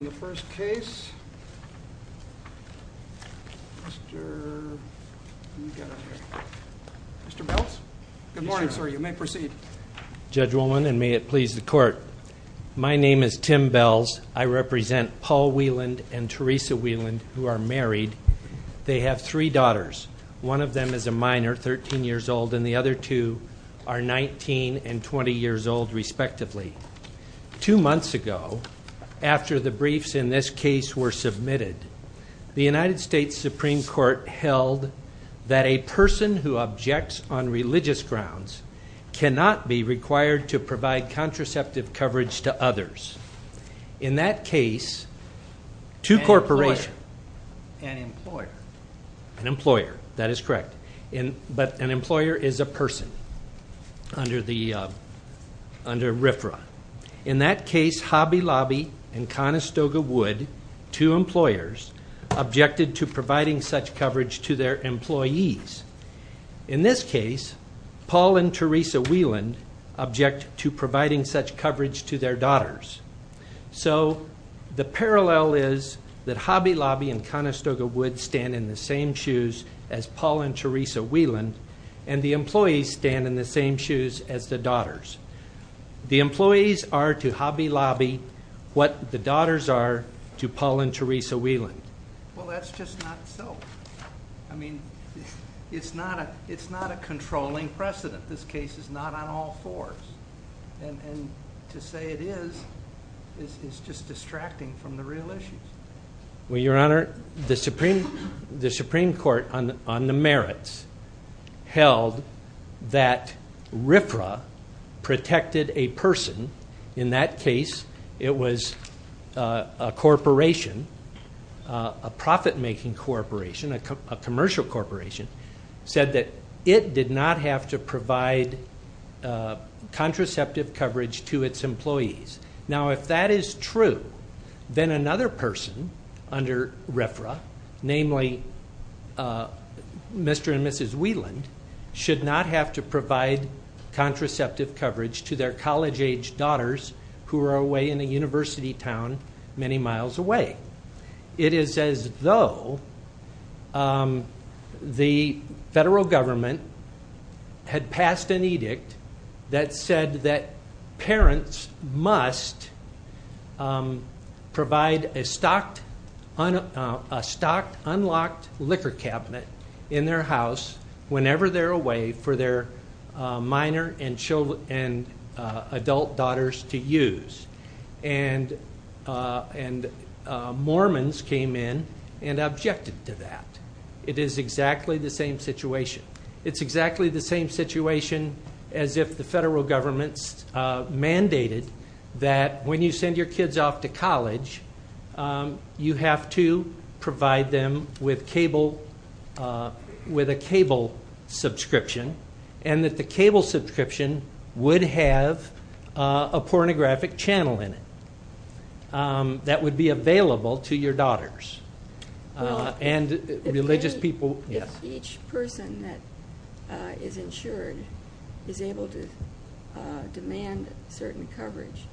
In the first case, Mr. Bells. Good morning, sir. You may proceed. Judge Woolman, and may it please the Court. My name is Tim Bells. I represent Paul Wieland and Teresa Wieland, who are married. They have three daughters. One of them is a minor, 13 years old, and the other two are 19 and 20 years old, respectively. Two months ago, after the briefs in this case were submitted, the United States Supreme Court held that a person who objects on religious grounds cannot be required to provide contraceptive coverage to others. In that case, two corporations... In that case, Hobby Lobby and Conestoga Wood, two employers, objected to providing such coverage to their employees. In this case, Paul and Teresa Wieland object to providing such coverage to their daughters. So the parallel is that Hobby Lobby and Conestoga Wood stand in the same shoes as Paul and Teresa Wieland, and the employees stand in the same shoes as the daughters. The employees are to Hobby Lobby what the daughters are to Paul and Teresa Wieland. Well, that's just not so. I mean, it's not a controlling precedent. This case is not on all fours. And to say it is, is just distracting from the real issues. Well, Your Honor, the Supreme Court on the merits held that RFRA protected a person. In that case, it was a corporation, a profit-making corporation, a commercial corporation, said that it did not have to provide contraceptive coverage to its employees. Now, if that is true, then another person under RFRA, namely Mr. and Mrs. Wieland, should not have to provide contraceptive coverage to their college-age daughters who are away in a university town many miles away. It is as though the federal government had passed an edict that said that parents must provide a stocked, unlocked liquor cabinet in their house whenever they're away for their minor and adult daughters to use. And Mormons came in and objected to that. It is exactly the same situation. It's exactly the same situation as if the federal government mandated that when you send your kids off to college, you have to provide them with a cable subscription and that the cable subscription would have a pornographic channel in it that would be available to your daughters and religious people. So if each person that is insured is able to demand certain coverage,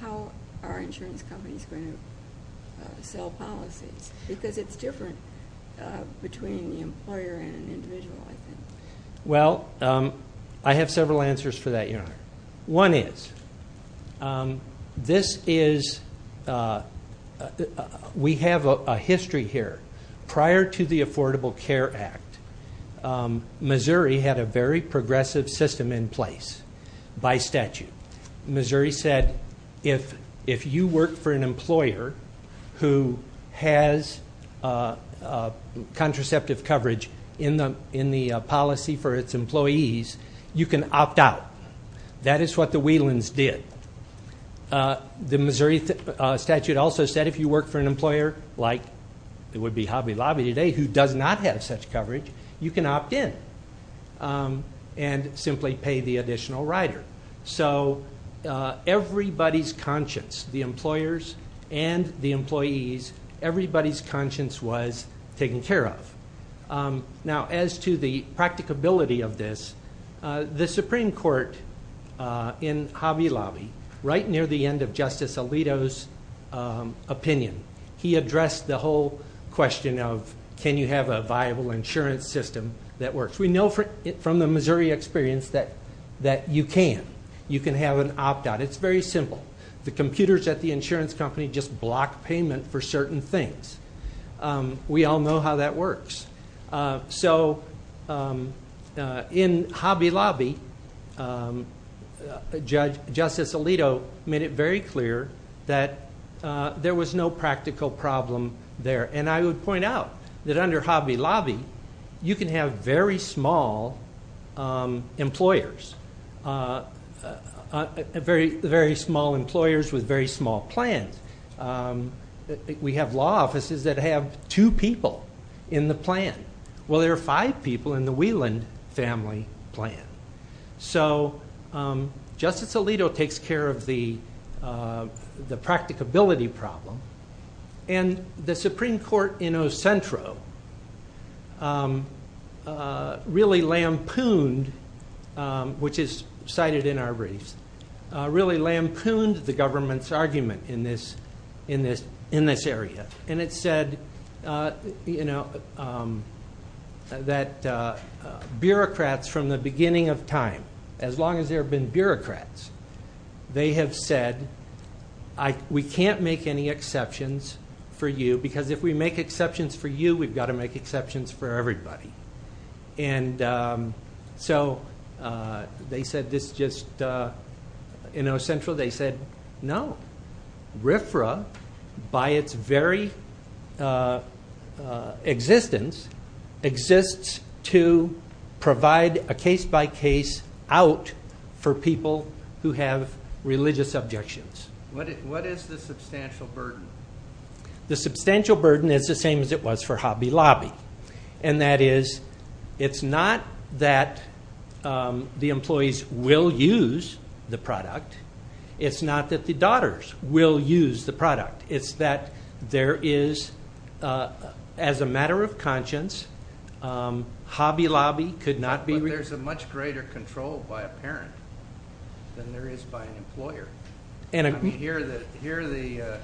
how are insurance companies going to sell policies? Because it's different between the employer and an individual, I think. Well, I have several answers for that, Your Honor. One is we have a history here. Prior to the Affordable Care Act, Missouri had a very progressive system in place by statute. Missouri said if you work for an employer who has contraceptive coverage in the policy for its employees, you can opt out. That is what the Whelans did. The Missouri statute also said if you work for an employer, like it would be Hobby Lobby today, who does not have such coverage, you can opt in and simply pay the additional rider. So everybody's conscience, the employers and the employees, everybody's conscience was taken care of. Now, as to the practicability of this, the Supreme Court in Hobby Lobby, right near the end of Justice Alito's opinion, he addressed the whole question of can you have a viable insurance system that works. We know from the Missouri experience that you can. You can have an opt-out. It's very simple. The computers at the insurance company just block payment for certain things. We all know how that works. So in Hobby Lobby, Justice Alito made it very clear that there was no practical problem there. And I would point out that under Hobby Lobby, you can have very small employers, very small employers with very small plans. We have law offices that have two people in the plan. Well, there are five people in the Wieland family plan. So Justice Alito takes care of the practicability problem, and the Supreme Court in Ocentro really lampooned, which is cited in our briefs, really lampooned the government's argument in this area. And it said that bureaucrats from the beginning of time, as long as there have been bureaucrats, they have said we can't make any exceptions for you because if we make exceptions for you, we've got to make exceptions for everybody. And so they said this just in Ocentro. They said no. RFRA, by its very existence, exists to provide a case-by-case out for people who have religious objections. What is the substantial burden? The substantial burden is the same as it was for Hobby Lobby. And that is it's not that the employees will use the product. It's not that the daughters will use the product. It's that there is, as a matter of conscience, Hobby Lobby could not be ---- But there's a much greater control by a parent than there is by an employer. Here the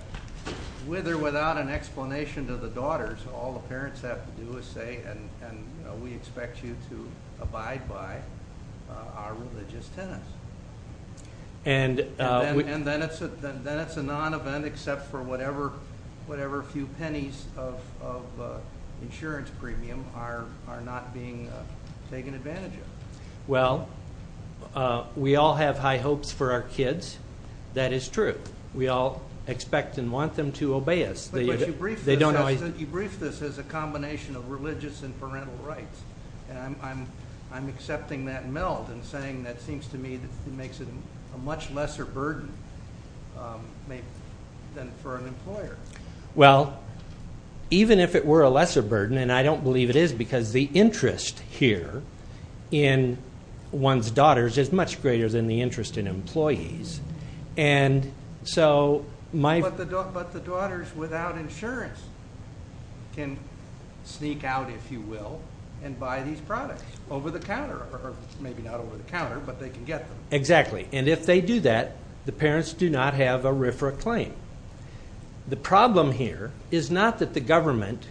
with or without an explanation to the daughters, all the parents have to do is say, and we expect you to abide by our religious tenets. And then it's a non-event except for whatever few pennies of insurance premium are not being taken advantage of. Well, we all have high hopes for our kids. That is true. We all expect and want them to obey us. But you briefed this as a combination of religious and parental rights. And I'm accepting that and saying that seems to me makes it a much lesser burden than for an employer. Well, even if it were a lesser burden, and I don't believe it is because the interest here in one's daughters is much greater than the interest in employees. And so my ---- But the daughters without insurance can sneak out, if you will, and buy these products over the counter. Or maybe not over the counter, but they can get them. Exactly. And if they do that, the parents do not have a RFRA claim. The problem here is not that the government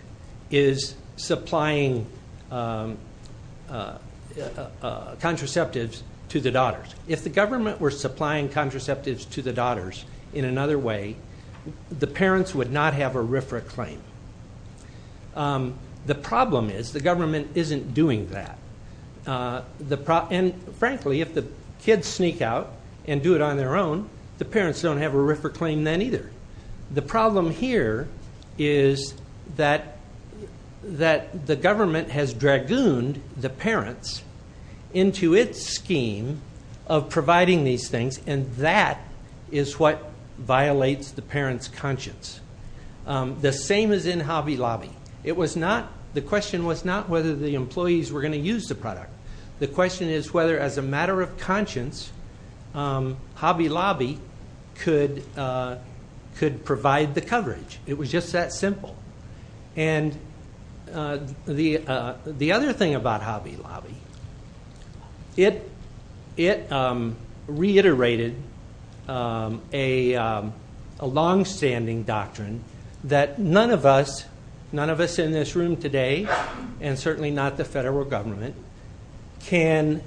is supplying contraceptives to the daughters. If the government were supplying contraceptives to the daughters in another way, the parents would not have a RFRA claim. The problem is the government isn't doing that. And, frankly, if the kids sneak out and do it on their own, the parents don't have a RFRA claim then either. The problem here is that the government has dragooned the parents into its scheme of providing these things, and that is what violates the parents' conscience. The same is in Hobby Lobby. The question was not whether the employees were going to use the product. The question is whether, as a matter of conscience, Hobby Lobby could provide the coverage. It was just that simple. And the other thing about Hobby Lobby, it reiterated a longstanding doctrine that none of us in this room today, and certainly not the federal government, can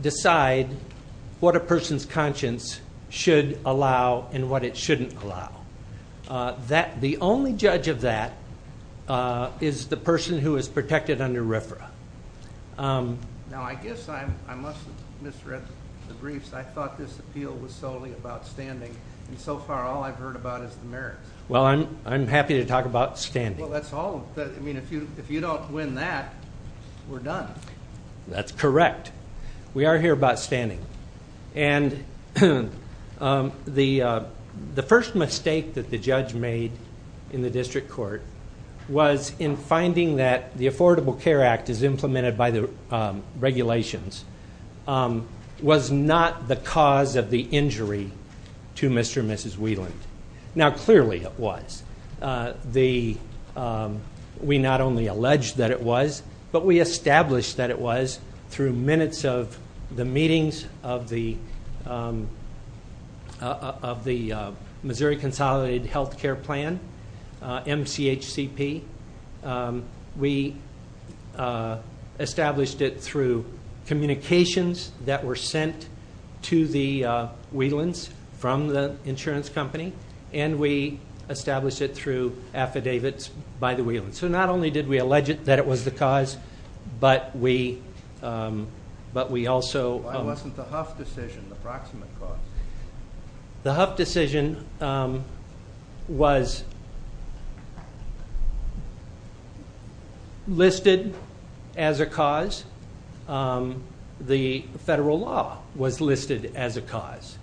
decide what a person's conscience should allow and what it shouldn't allow. The only judge of that is the person who is protected under RFRA. Now, I guess I must have misread the briefs. I thought this appeal was solely about standing, and so far all I've heard about is the merits. Well, I'm happy to talk about standing. Well, that's all. I mean, if you don't win that, we're done. That's correct. We are here about standing. And the first mistake that the judge made in the district court was in finding that the Affordable Care Act, as implemented by the regulations, was not the cause of the injury to Mr. and Mrs. Wieland. Now, clearly it was. We not only alleged that it was, but we established that it was through minutes of the meetings of the Missouri Consolidated Health Care Plan, MCHCP. We established it through communications that were sent to the Wielands from the insurance company, and we established it through affidavits by the Wielands. So not only did we allege that it was the cause, but we also. Why wasn't the Hough decision the proximate cause? The Hough decision was listed as a cause. The federal law was listed as a cause.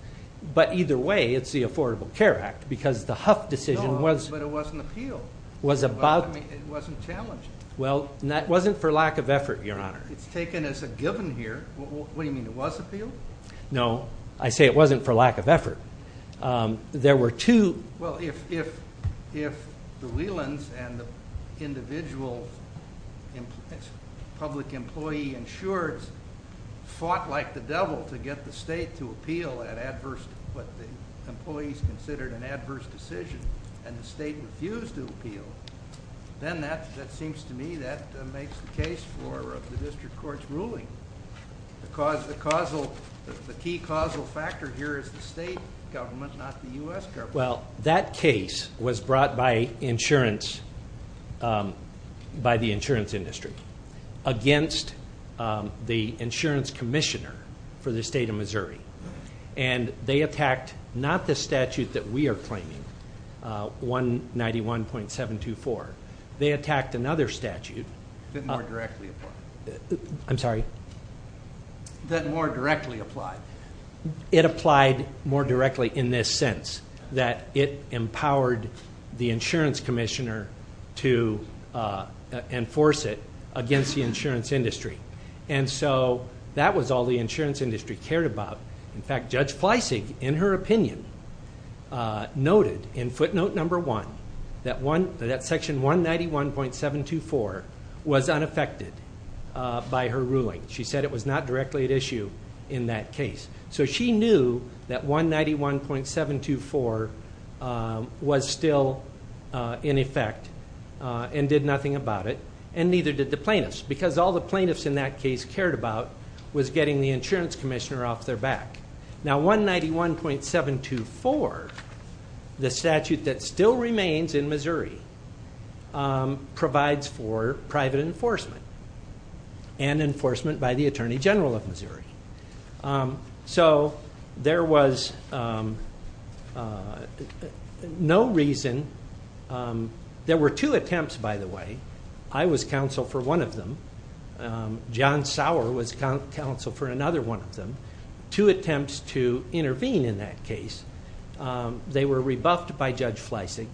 But either way, it's the Affordable Care Act, because the Hough decision was. No, but it was an appeal. It wasn't challenging. Well, it wasn't for lack of effort, Your Honor. It's taken as a given here. What do you mean? It was appealed? No, I say it wasn't for lack of effort. There were two. Well, if the Wielands and the individual public employee insureds fought like the devil to get the state to appeal what the employees considered an adverse decision, and the state refused to appeal, then that seems to me that makes the case for the district court's ruling. The key causal factor here is the state government, not the U.S. government. Well, that case was brought by the insurance industry against the insurance commissioner for the state of Missouri. And they attacked not the statute that we are claiming, 191.724. They attacked another statute. That more directly applied. I'm sorry? That more directly applied. It applied more directly in this sense, that it empowered the insurance commissioner to enforce it against the insurance industry. And so that was all the insurance industry cared about. In fact, Judge Fleissig, in her opinion, noted in footnote number one that section 191.724 was unaffected by her ruling. She said it was not directly at issue in that case. So she knew that 191.724 was still in effect and did nothing about it, and neither did the plaintiffs, because all the plaintiffs in that case cared about was getting the insurance commissioner off their back. Now, 191.724, the statute that still remains in Missouri, provides for private enforcement and enforcement by the Attorney General of Missouri. So there was no reason. There were two attempts, by the way. I was counsel for one of them. John Sauer was counsel for another one of them. Two attempts to intervene in that case. They were rebuffed by Judge Fleissig,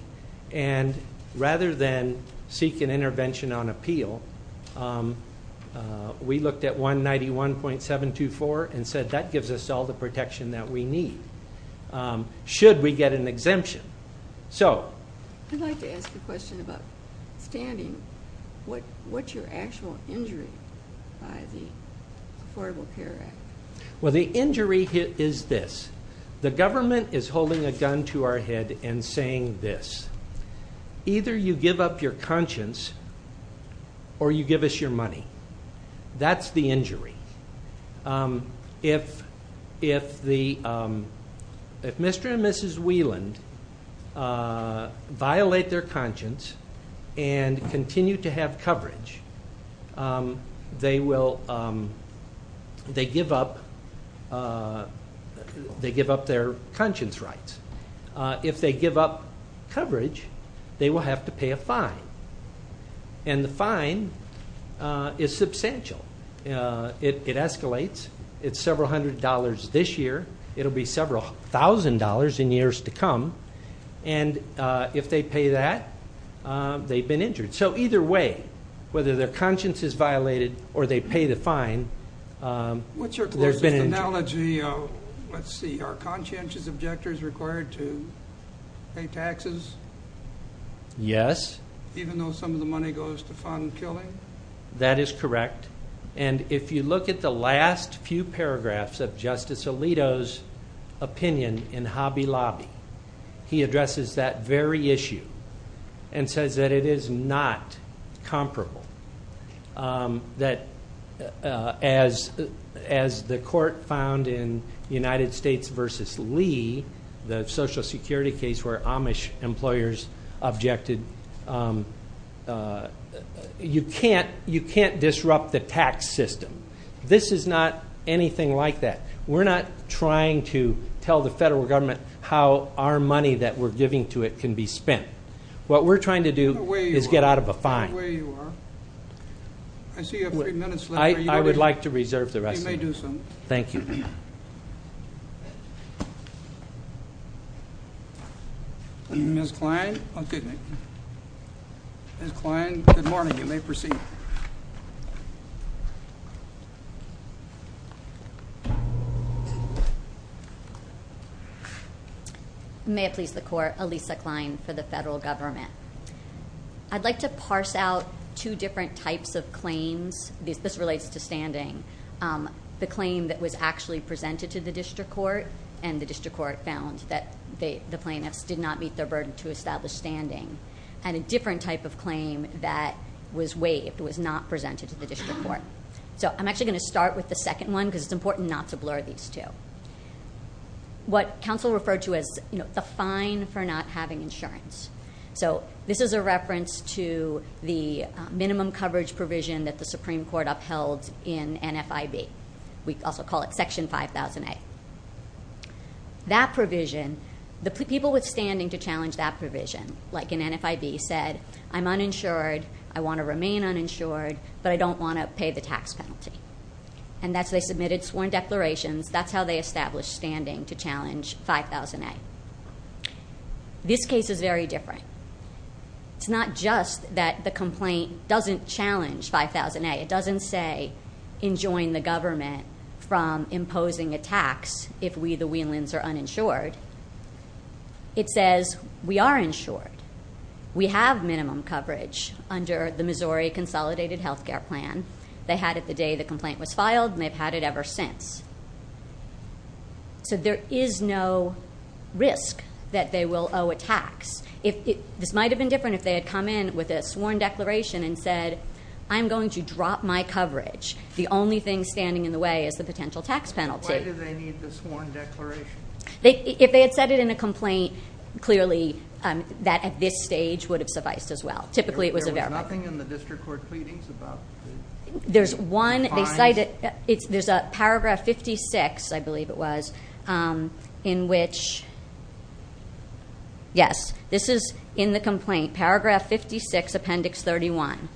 and rather than seek an intervention on appeal, we looked at 191.724 and said that gives us all the protection that we need, should we get an exemption. I'd like to ask a question about standing. What's your actual injury by the Affordable Care Act? Well, the injury is this. The government is holding a gun to our head and saying this. Either you give up your conscience or you give us your money. That's the injury. If Mr. and Mrs. Wieland violate their conscience and continue to have coverage, they give up their conscience rights. If they give up coverage, they will have to pay a fine, and the fine is substantial. It escalates. It's several hundred dollars this year. It will be several thousand dollars in years to come. And if they pay that, they've been injured. So either way, whether their conscience is violated or they pay the fine, they've been injured. What's your closest analogy? Let's see. Are conscientious objectors required to pay taxes? Yes. Even though some of the money goes to fund killing? That is correct. And if you look at the last few paragraphs of Justice Alito's opinion in Hobby Lobby, he addresses that very issue and says that it is not comparable. That as the court found in United States v. Lee, the Social Security case where Amish employers objected, you can't disrupt the tax system. This is not anything like that. We're not trying to tell the federal government how our money that we're giving to it can be spent. What we're trying to do is get out of a fine. That's the way you are. I see you have three minutes left. I would like to reserve the rest of it. You may do so. Thank you. Ms. Klein? Ms. Klein, good morning. You may proceed. May it please the Court, Alisa Klein for the federal government. I'd like to parse out two different types of claims. This relates to standing. The claim that was actually presented to the district court, and the district court found that the plaintiffs did not meet their burden to establish standing. And a different type of claim that was waived was not presented to the district court. I'm actually going to start with the second one because it's important not to blur these two. What counsel referred to as the fine for not having insurance. So this is a reference to the minimum coverage provision that the Supreme Court upheld in NFIB. We also call it Section 5000A. That provision, the people with standing to challenge that provision, like in NFIB, said, I'm uninsured, I want to remain uninsured, but I don't want to pay the tax penalty. And they submitted sworn declarations. That's how they established standing to challenge 5000A. This case is very different. It's not just that the complaint doesn't challenge 5000A. It doesn't say enjoin the government from imposing a tax if we, the Wheelans, are uninsured. It says we are insured. We have minimum coverage under the Missouri Consolidated Health Care Plan. They had it the day the complaint was filed, and they've had it ever since. So there is no risk that they will owe a tax. This might have been different if they had come in with a sworn declaration and said, I'm going to drop my coverage. The only thing standing in the way is the potential tax penalty. Why do they need the sworn declaration? If they had said it in a complaint, clearly that at this stage would have sufficed as well. Typically it was a verbiage. There was nothing in the district court pleadings about the fines? There's one. They cite it. There's a paragraph 56, I believe it was, in which, yes, this is in the complaint. Paragraph 56, appendix 31.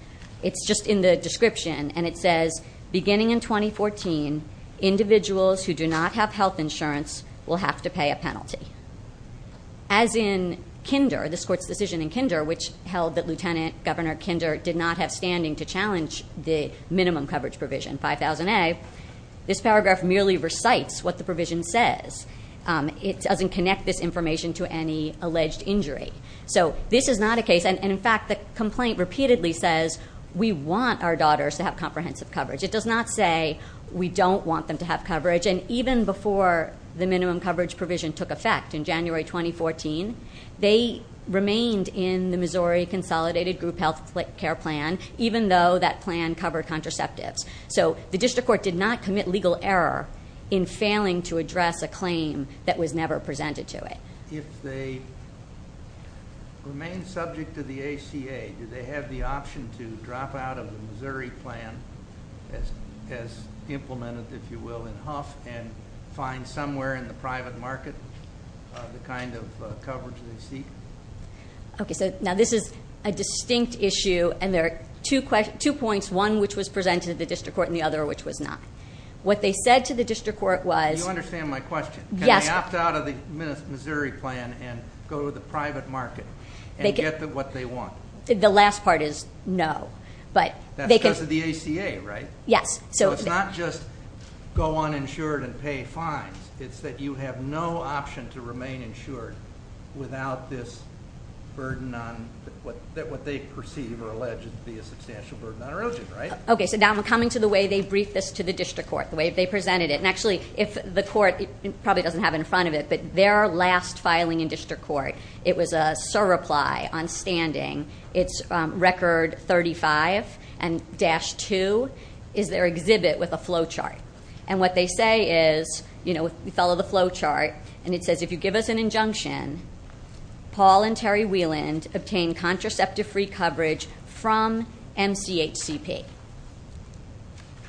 It's just in the description, and it says, beginning in 2014, individuals who do not have health insurance will have to pay a penalty. As in Kinder, this court's decision in Kinder, which held that Lieutenant Governor Kinder did not have standing to challenge the minimum coverage provision 5000A, this paragraph merely recites what the provision says. It doesn't connect this information to any alleged injury. So this is not a case, and, in fact, the complaint repeatedly says, we want our daughters to have comprehensive coverage. It does not say we don't want them to have coverage, and even before the minimum coverage provision took effect in January 2014, they remained in the Missouri Consolidated Group Health Care Plan, even though that plan covered contraceptives. So the district court did not commit legal error in failing to address a claim that was never presented to it. If they remain subject to the ACA, do they have the option to drop out of the Missouri plan, as implemented, if you will, in Huff, and find somewhere in the private market the kind of coverage they seek? Okay, so now this is a distinct issue, and there are two points, one which was presented to the district court and the other which was not. What they said to the district court was- You understand my question. Yes. Can they opt out of the Missouri plan and go to the private market and get what they want? The last part is no. That's because of the ACA, right? Yes. So it's not just go uninsured and pay fines. It's that you have no option to remain insured without this burden on what they perceive or allege to be a substantial burden on a relative, right? Okay, so now I'm coming to the way they briefed this to the district court, the way they presented it. And actually, the court probably doesn't have it in front of it, but their last filing in district court, it was a surreply on standing. It's record 35 and dash 2 is their exhibit with a flow chart. And what they say is, we follow the flow chart, and it says, if you give us an injunction, Paul and Terry Wieland obtain contraceptive free coverage from MCHCP.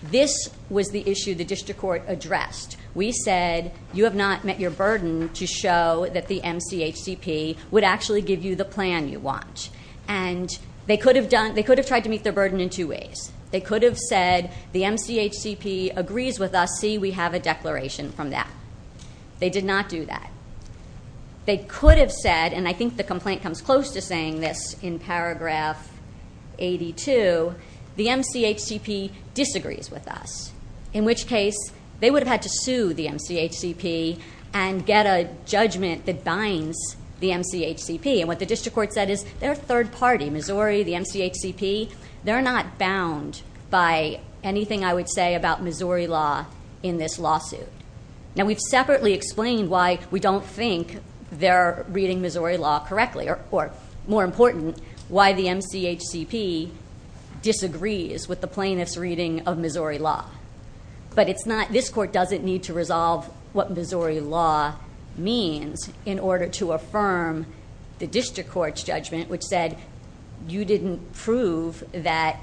This was the issue the district court addressed. We said, you have not met your burden to show that the MCHCP would actually give you the plan you want. And they could have tried to meet their burden in two ways. They could have said, the MCHCP agrees with us, see, we have a declaration from that. They did not do that. They could have said, and I think the complaint comes close to saying this in paragraph 82, the MCHCP disagrees with us. In which case, they would have had to sue the MCHCP and get a judgment that binds the MCHCP. And what the district court said is, they're a third party, Missouri, the MCHCP. They're not bound by anything I would say about Missouri law in this lawsuit. Now, we've separately explained why we don't think they're reading Missouri law correctly, or more important, why the MCHCP disagrees with the plaintiff's reading of Missouri law. But this court doesn't need to resolve what Missouri law means in order to affirm the district court's judgment, which said, you didn't prove that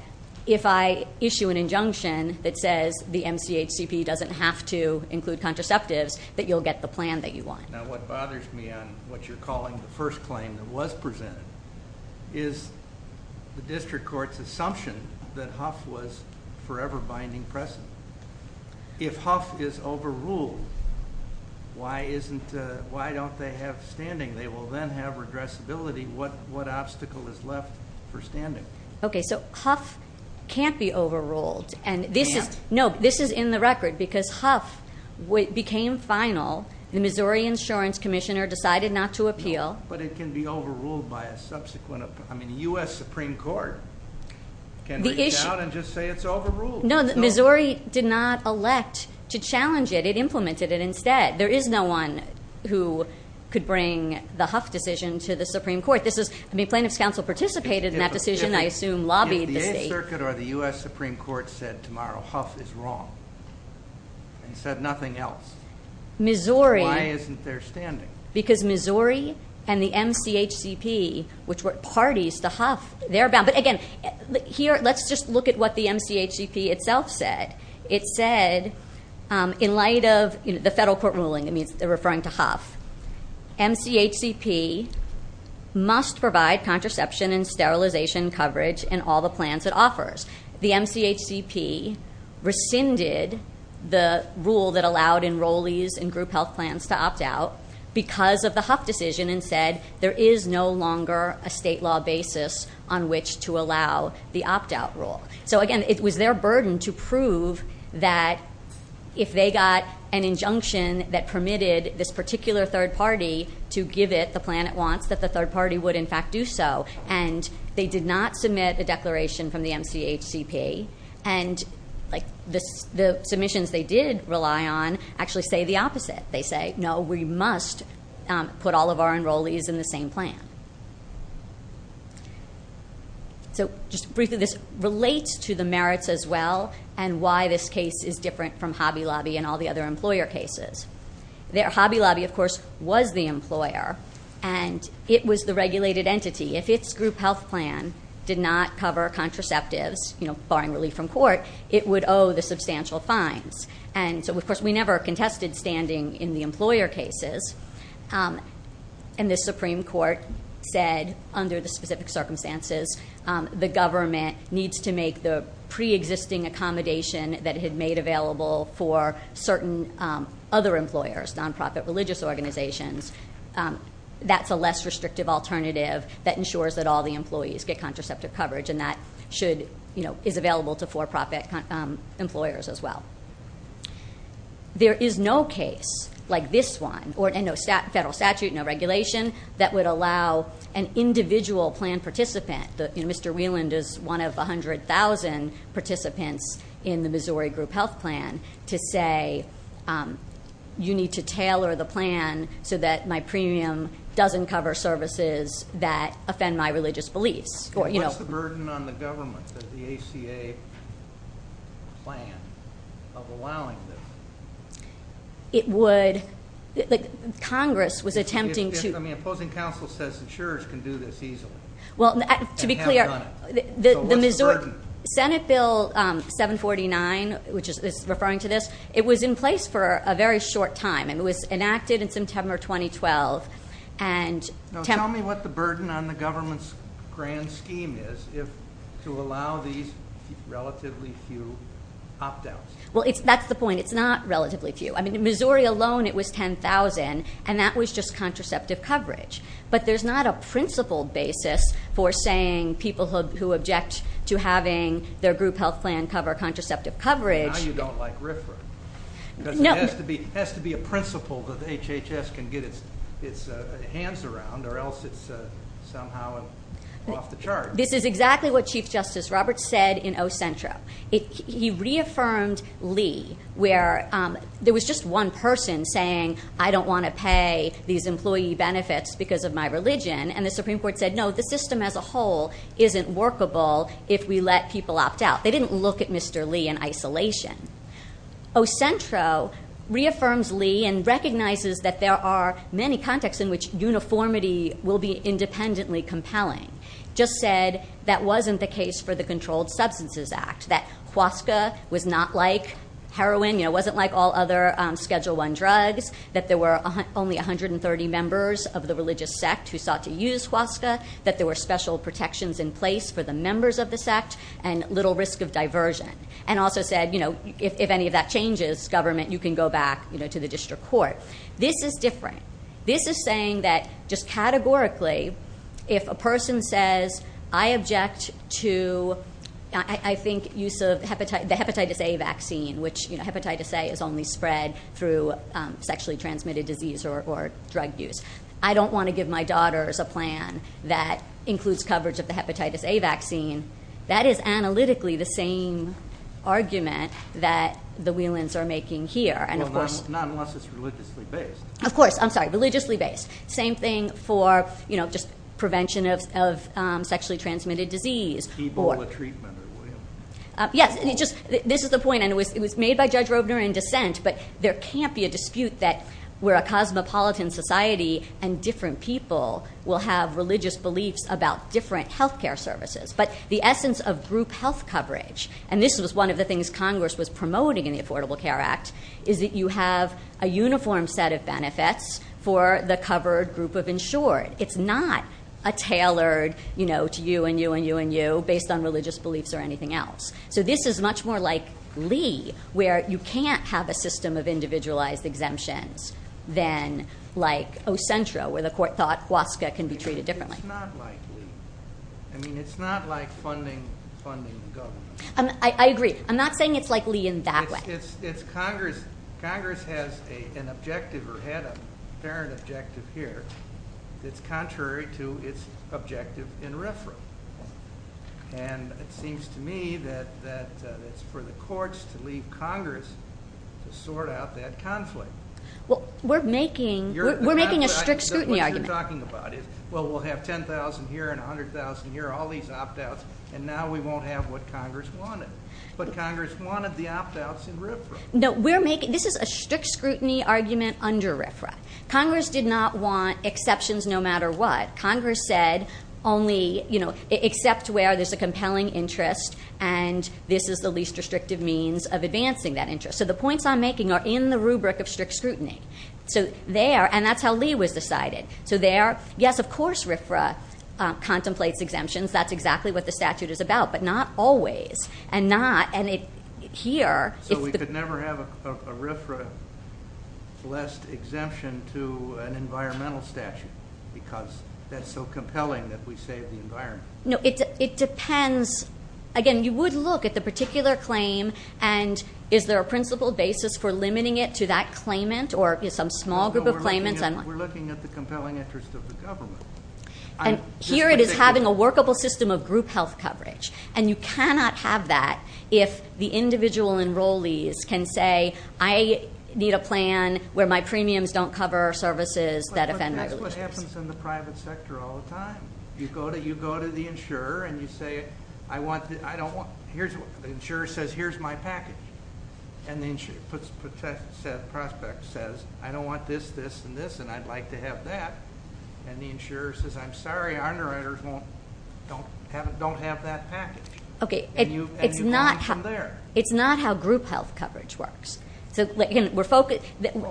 if I issue an injunction that says the MCHCP doesn't have to include contraceptives, that you'll get the plan that you want. Now, what bothers me on what you're calling the first claim that was presented is the district court's assumption that Huff was forever binding precedent. If Huff is overruled, why don't they have standing? They will then have redressability. What obstacle is left for standing? Okay, so Huff can't be overruled. Can't? No, this is in the record, because Huff became final. The Missouri Insurance Commissioner decided not to appeal. But it can be overruled by a subsequent, I mean, the U.S. Supreme Court can reach out and just say it's overruled. No, Missouri did not elect to challenge it. It implemented it instead. There is no one who could bring the Huff decision to the Supreme Court. This is, I mean, plaintiff's counsel participated in that decision, I assume, lobbied the state. If the 8th Circuit or the U.S. Supreme Court said tomorrow Huff is wrong and said nothing else, why isn't there standing? Because Missouri and the MCHCP, which were parties to Huff, they're bound. But, again, here, let's just look at what the MCHCP itself said. It said in light of the federal court ruling, I mean, referring to Huff, MCHCP must provide contraception and sterilization coverage in all the plans it offers. The MCHCP rescinded the rule that allowed enrollees and group health plans to opt out because of the Huff decision and said there is no longer a state law basis on which to allow the opt out rule. So again, it was their burden to prove that if they got an injunction that permitted this particular third party to give it the plan it wants, that the third party would, in fact, do so. And they did not submit a declaration from the MCHCP. And the submissions they did rely on actually say the opposite. They say, no, we must put all of our enrollees in the same plan. So just briefly, this relates to the merits as well and why this case is different from Hobby Lobby and all the other employer cases. Hobby Lobby, of course, was the employer. And it was the regulated entity. If its group health plan did not cover contraceptives, barring relief from court, it would owe the substantial fines. And so, of course, we never contested standing in the employer cases. And the Supreme Court said, under the specific circumstances, the government needs to make the pre-existing accommodation that it had made available for certain other employers, nonprofit religious organizations. That's a less restrictive alternative that ensures that all the employees get contraceptive coverage. And that is available to for-profit employers as well. There is no case like this one, and no federal statute, no regulation, that would allow an individual plan participant. Mr. Wieland is one of 100,000 participants in the Missouri group health plan to say, you need to tailor the plan so that my premium doesn't cover services that offend my religious beliefs. What's the burden on the government, the ACA plan, of allowing this? It would. Congress was attempting to. I mean, opposing counsel says insurers can do this easily. Well, to be clear, the Missouri Senate Bill 749, which is referring to this, it was in place for a very short time, and it was enacted in September 2012. Now, tell me what the burden on the government's grand scheme is to allow these relatively few opt-outs. Well, that's the point. It's not relatively few. I mean, in Missouri alone it was 10,000, and that was just contraceptive coverage. But there's not a principled basis for saying people who object to having their group health plan cover contraceptive coverage. Now you don't like RFRA. It has to be a principle that HHS can get its hands around, or else it's somehow off the charts. This is exactly what Chief Justice Roberts said in Ocentro. He reaffirmed Lee, where there was just one person saying, I don't want to pay these employee benefits because of my religion, and the Supreme Court said, no, the system as a whole isn't workable if we let people opt out. They didn't look at Mr. Lee in isolation. Ocentro reaffirms Lee and recognizes that there are many contexts in which uniformity will be independently compelling. Just said that wasn't the case for the Controlled Substances Act, that HWASCA was not like heroin, you know, wasn't like all other Schedule I drugs, that there were only 130 members of the religious sect who sought to use HWASCA, that there were special protections in place for the members of the sect, and little risk of diversion. And also said, you know, if any of that changes, government, you can go back to the district court. This is different. This is saying that just categorically, if a person says, I object to, I think, use of the Hepatitis A vaccine, which Hepatitis A is only spread through sexually transmitted disease or drug use. I don't want to give my daughters a plan that includes coverage of the Hepatitis A vaccine. That is analytically the same argument that the Whelans are making here. Well, not unless it's religiously based. Of course, I'm sorry, religiously based. Same thing for, you know, just prevention of sexually transmitted disease. People with treatment. Yes, this is the point, and it was made by Judge Robner in dissent, but there can't be a dispute that we're a cosmopolitan society and different people will have religious beliefs about different health care services. But the essence of group health coverage, and this was one of the things Congress was promoting in the Affordable Care Act, is that you have a uniform set of benefits for the covered group of insured. It's not a tailored, you know, to you and you and you and you, based on religious beliefs or anything else. So this is much more like Lee, where you can't have a system of individualized exemptions than like Ocentra, where the court thought HWASCA can be treated differently. It's not like Lee. I mean, it's not like funding the government. I agree. I'm not saying it's like Lee in that way. Well, it's Congress. Congress has an objective or had a parent objective here that's contrary to its objective in RFRA. And it seems to me that it's for the courts to leave Congress to sort out that conflict. Well, we're making a strict scrutiny argument. What you're talking about is, well, we'll have 10,000 here and 100,000 here, all these opt-outs, and now we won't have what Congress wanted. But Congress wanted the opt-outs in RFRA. No, this is a strict scrutiny argument under RFRA. Congress did not want exceptions no matter what. Congress said only, you know, except where there's a compelling interest and this is the least restrictive means of advancing that interest. So the points I'm making are in the rubric of strict scrutiny. So there, and that's how Lee was decided. So there, yes, of course RFRA contemplates exemptions. That's exactly what the statute is about, but not always. So we could never have a RFRA-less exemption to an environmental statute because that's so compelling that we save the environment. No, it depends. Again, you would look at the particular claim and is there a principled basis for limiting it to that claimant or some small group of claimants. We're looking at the compelling interest of the government. And here it is having a workable system of group health coverage. And you cannot have that if the individual enrollees can say, I need a plan where my premiums don't cover services that offend my religiousness. But that's what happens in the private sector all the time. You go to the insurer and you say, I don't want, the insurer says, here's my package. And the prospect says, I don't want this, this, and this, and I'd like to have that. And the insurer says, I'm sorry, our underwriters don't have that package. And you go on from there. It's not how group health coverage works. A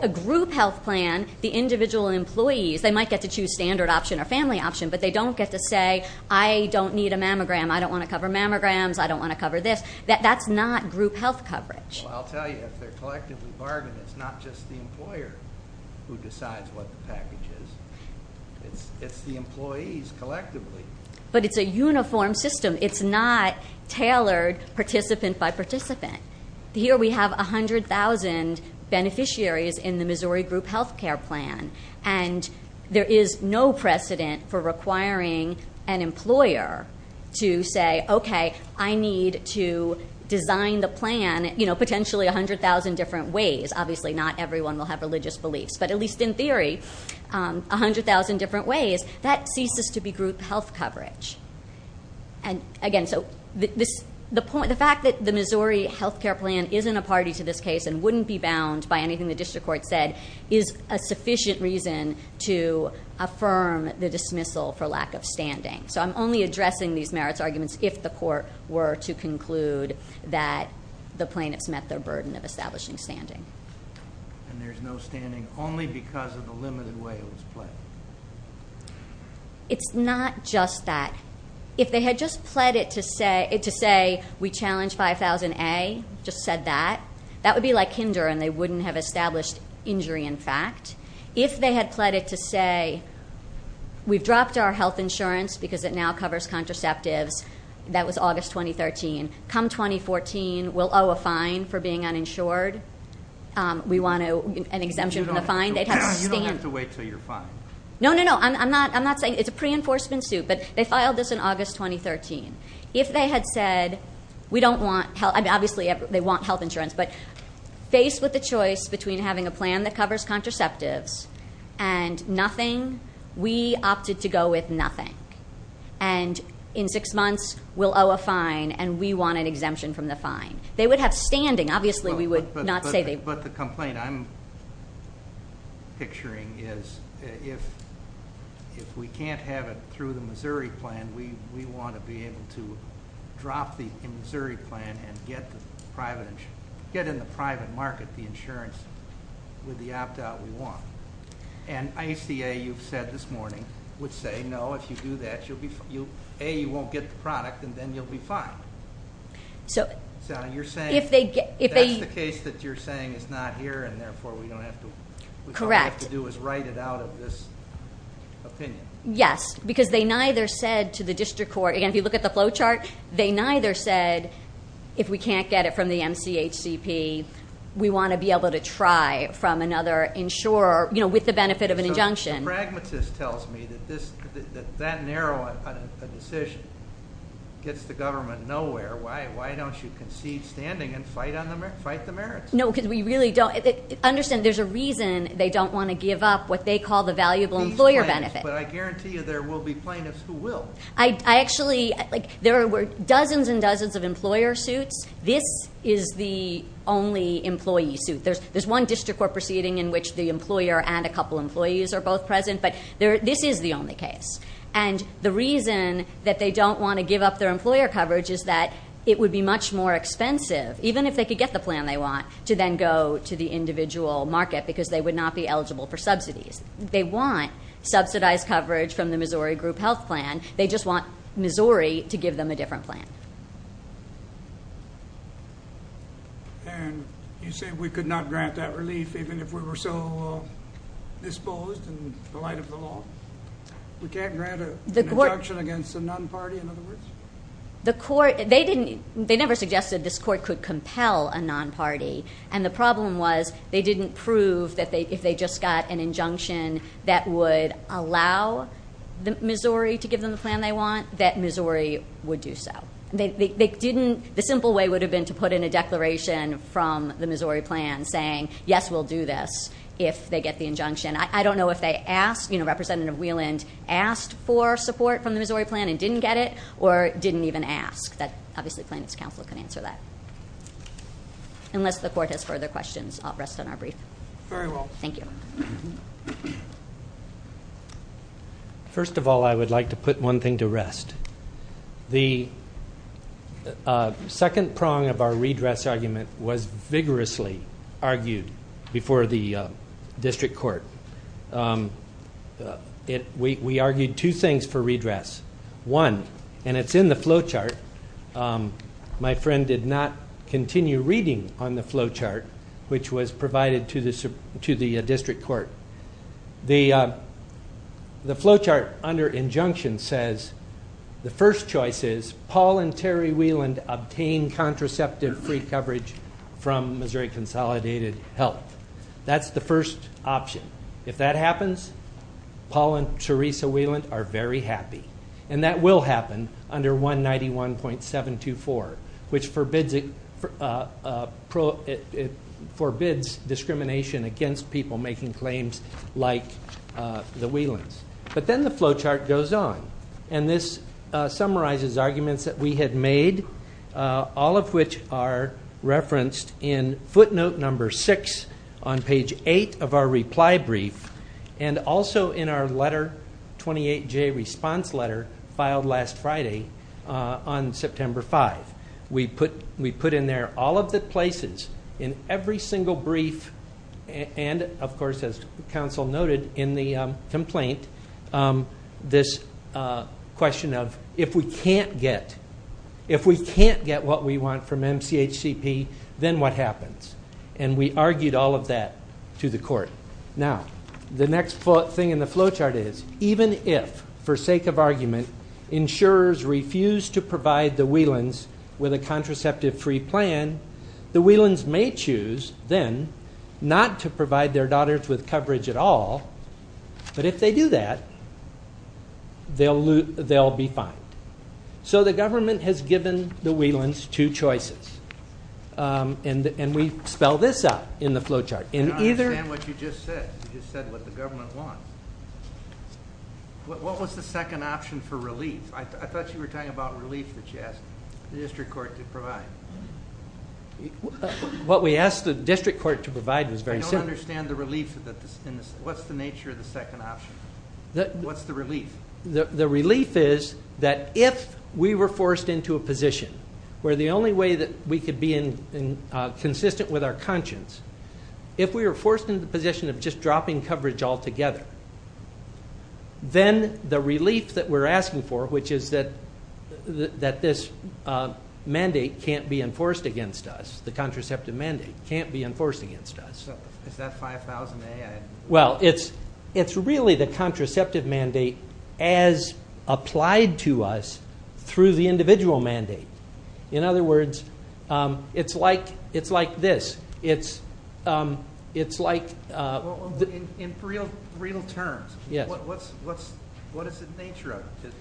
group health plan, the individual employees, they might get to choose standard option or family option, but they don't get to say, I don't need a mammogram, I don't want to cover mammograms, I don't want to cover this. That's not group health coverage. Well, I'll tell you, if they're collectively bargaining, it's not just the employer who decides what the package is. It's the employees collectively. But it's a uniform system. It's not tailored participant by participant. Here we have 100,000 beneficiaries in the Missouri Group Health Care Plan, and there is no precedent for requiring an employer to say, okay, I need to design the plan, you know, potentially 100,000 different ways. Obviously not everyone will have religious beliefs, but at least in theory, 100,000 different ways. That ceases to be group health coverage. And, again, so the fact that the Missouri health care plan isn't a party to this case and wouldn't be bound by anything the district court said is a sufficient reason to affirm the dismissal for lack of standing. So I'm only addressing these merits arguments if the court were to conclude that the plaintiffs met their burden of establishing standing. And there's no standing only because of the limited way it was pled. It's not just that. If they had just pled it to say we challenge 5000A, just said that, that would be like kinder and they wouldn't have established injury in fact. If they had pled it to say we've dropped our health insurance because it now covers contraceptives, that was August 2013, come 2014 we'll owe a fine for being uninsured. We want an exemption from the fine. You don't have to wait until you're fined. No, no, no. I'm not saying it's a pre-enforcement suit, but they filed this in August 2013. If they had said we don't want health, obviously they want health insurance, but faced with the choice between having a plan that covers contraceptives and nothing, we opted to go with nothing. And in six months we'll owe a fine and we want an exemption from the fine. They would have standing. Obviously we would not say they- But the complaint I'm picturing is if we can't have it through the Missouri plan, we want to be able to drop the Missouri plan and get in the private market the insurance with the opt-out we want. And ICA, you've said this morning, would say no, if you do that, A, you won't get the product, and then you'll be fined. So you're saying- If they- If that's the case that you're saying is not here and therefore we don't have to- Correct. We don't have to do is write it out of this opinion. Yes, because they neither said to the district court, and if you look at the flow chart, they neither said if we can't get it from the MCHCP, we want to be able to try from another insurer with the benefit of an injunction. The pragmatist tells me that that narrow a decision gets the government nowhere. Why don't you concede standing and fight the merits? No, because we really don't- Understand, there's a reason they don't want to give up what they call the valuable employer benefit. But I guarantee you there will be plaintiffs who will. I actually- There were dozens and dozens of employer suits. This is the only employee suit. There's one district court proceeding in which the employer and a couple employees are both present, but this is the only case. And the reason that they don't want to give up their employer coverage is that it would be much more expensive, even if they could get the plan they want, to then go to the individual market because they would not be eligible for subsidies. They want subsidized coverage from the Missouri Group Health Plan. They just want Missouri to give them a different plan. And you say we could not grant that relief even if we were so disposed in the light of the law. We can't grant an injunction against a non-party, in other words? The court- They never suggested this court could compel a non-party, and the problem was they didn't prove that if they just got an injunction that would allow Missouri to give them the plan they want, that Missouri would do so. They didn't- The simple way would have been to put in a declaration from the Missouri plan saying, yes, we'll do this if they get the injunction. I don't know if they asked- Representative Wieland asked for support from the Missouri plan and didn't get it or didn't even ask. Obviously, plaintiff's counsel can answer that. Unless the court has further questions, I'll rest on our brief. Very well. Thank you. First of all, I would like to put one thing to rest. The second prong of our redress argument was vigorously argued before the district court. We argued two things for redress. One, and it's in the flow chart. My friend did not continue reading on the flow chart, which was provided to the district court. The flow chart under injunction says the first choice is Paul and Terry Wieland obtain contraceptive free coverage from Missouri Consolidated Health. That's the first option. If that happens, Paul and Teresa Wieland are very happy, and that will happen under 191.724, which forbids discrimination against people making claims like the Wielands. But then the flow chart goes on, and this summarizes arguments that we had made, all of which are referenced in footnote number six on page eight of our reply brief, and also in our letter, 28J response letter filed last Friday on September 5th. We put in there all of the places in every single brief, and, of course, as counsel noted in the complaint, this question of if we can't get what we want from MCHCP, then what happens? And we argued all of that to the court. Now, the next thing in the flow chart is even if, for sake of argument, insurers refuse to provide the Wielands with a contraceptive free plan, the Wielands may choose then not to provide their daughters with coverage at all. But if they do that, they'll be fine. So the government has given the Wielands two choices, and we spell this out in the flow chart. I don't understand what you just said. You just said what the government wants. What was the second option for relief? I thought you were talking about relief that you asked the district court to provide. What we asked the district court to provide was very simple. I don't understand the relief in this. What's the nature of the second option? What's the relief? The relief is that if we were forced into a position where the only way that we could be consistent with our conscience, if we were forced into the position of just dropping coverage altogether, then the relief that we're asking for, which is that this mandate can't be enforced against us, the contraceptive mandate can't be enforced against us. Is that 5,000A? Well, it's really the contraceptive mandate as applied to us through the individual mandate. In other words, it's like this. In real terms, what is the nature of it?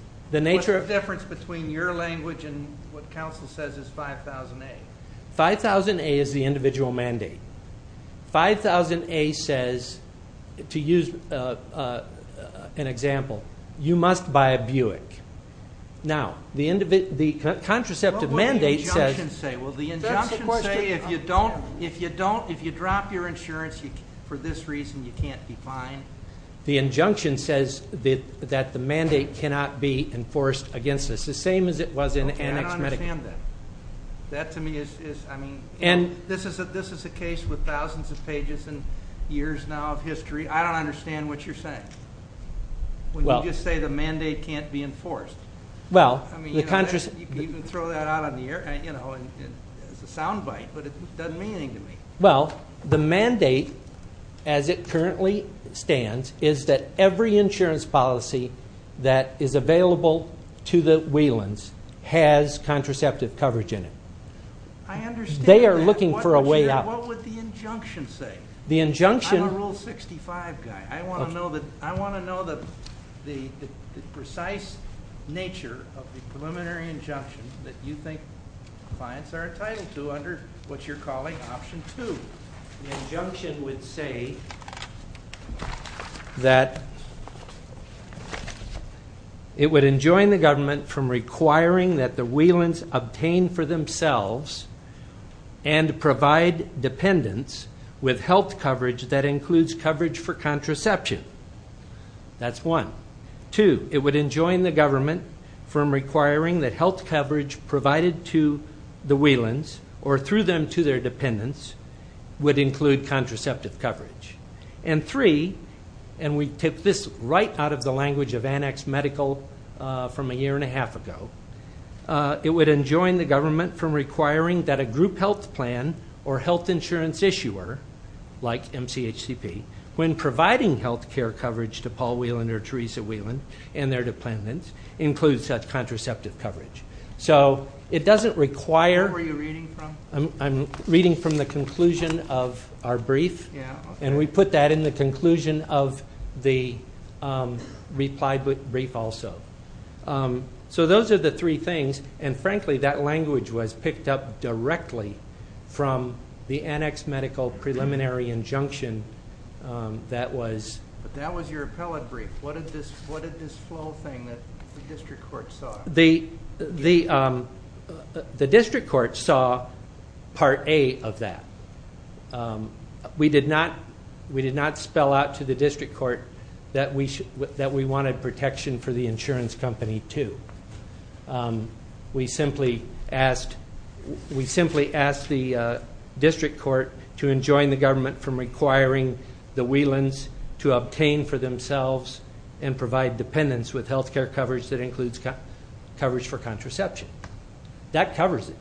What's the difference between your language and what counsel says is 5,000A? 5,000A is the individual mandate. 5,000A says, to use an example, you must buy a Buick. Now, the contraceptive mandate says the injunction says if you drop your insurance for this reason, you can't be fined. The injunction says that the mandate cannot be enforced against us, the same as it was in annex medical. Okay, I don't understand that. That to me is, I mean, this is a case with thousands of pages and years now of history. I don't understand what you're saying when you just say the mandate can't be enforced. I mean, you can throw that out on the air, and it's a sound bite, but it doesn't mean anything to me. Well, the mandate as it currently stands is that every insurance policy that is available to the Whelans has contraceptive coverage in it. I understand that. They are looking for a way out. What would the injunction say? The injunction. I'm a Rule 65 guy. I want to know the precise nature of the preliminary injunction that you think clients are entitled to under what you're calling Option 2. The injunction would say that it would enjoin the government from requiring that the Whelans obtain for themselves and provide dependents with health coverage that includes coverage for contraception. That's one. Two, it would enjoin the government from requiring that health coverage provided to the Whelans or through them to their dependents would include contraceptive coverage. And three, and we took this right out of the language of Annex Medical from a year and a half ago, it would enjoin the government from requiring that a group health plan or health insurance issuer, like MCHCP, when providing health care coverage to Paul Whelan or Teresa Whelan and their dependents, include such contraceptive coverage. So it doesn't require. Where were you reading from? I'm reading from the conclusion of our brief. And we put that in the conclusion of the reply brief also. So those are the three things. And, frankly, that language was picked up directly from the Annex Medical preliminary injunction that was. That was your appellate brief. What did this flow thing that the district court saw? The district court saw Part A of that. We did not spell out to the district court that we wanted protection for the insurance company, too. We simply asked the district court to enjoin the government from requiring the Whelans to obtain for themselves and provide dependents with health care coverage that includes coverage for contraception. That covers it.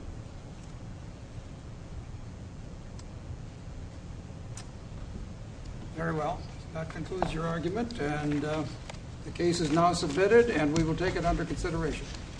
Very well. That concludes your argument. The case is now submitted, and we will take it under consideration.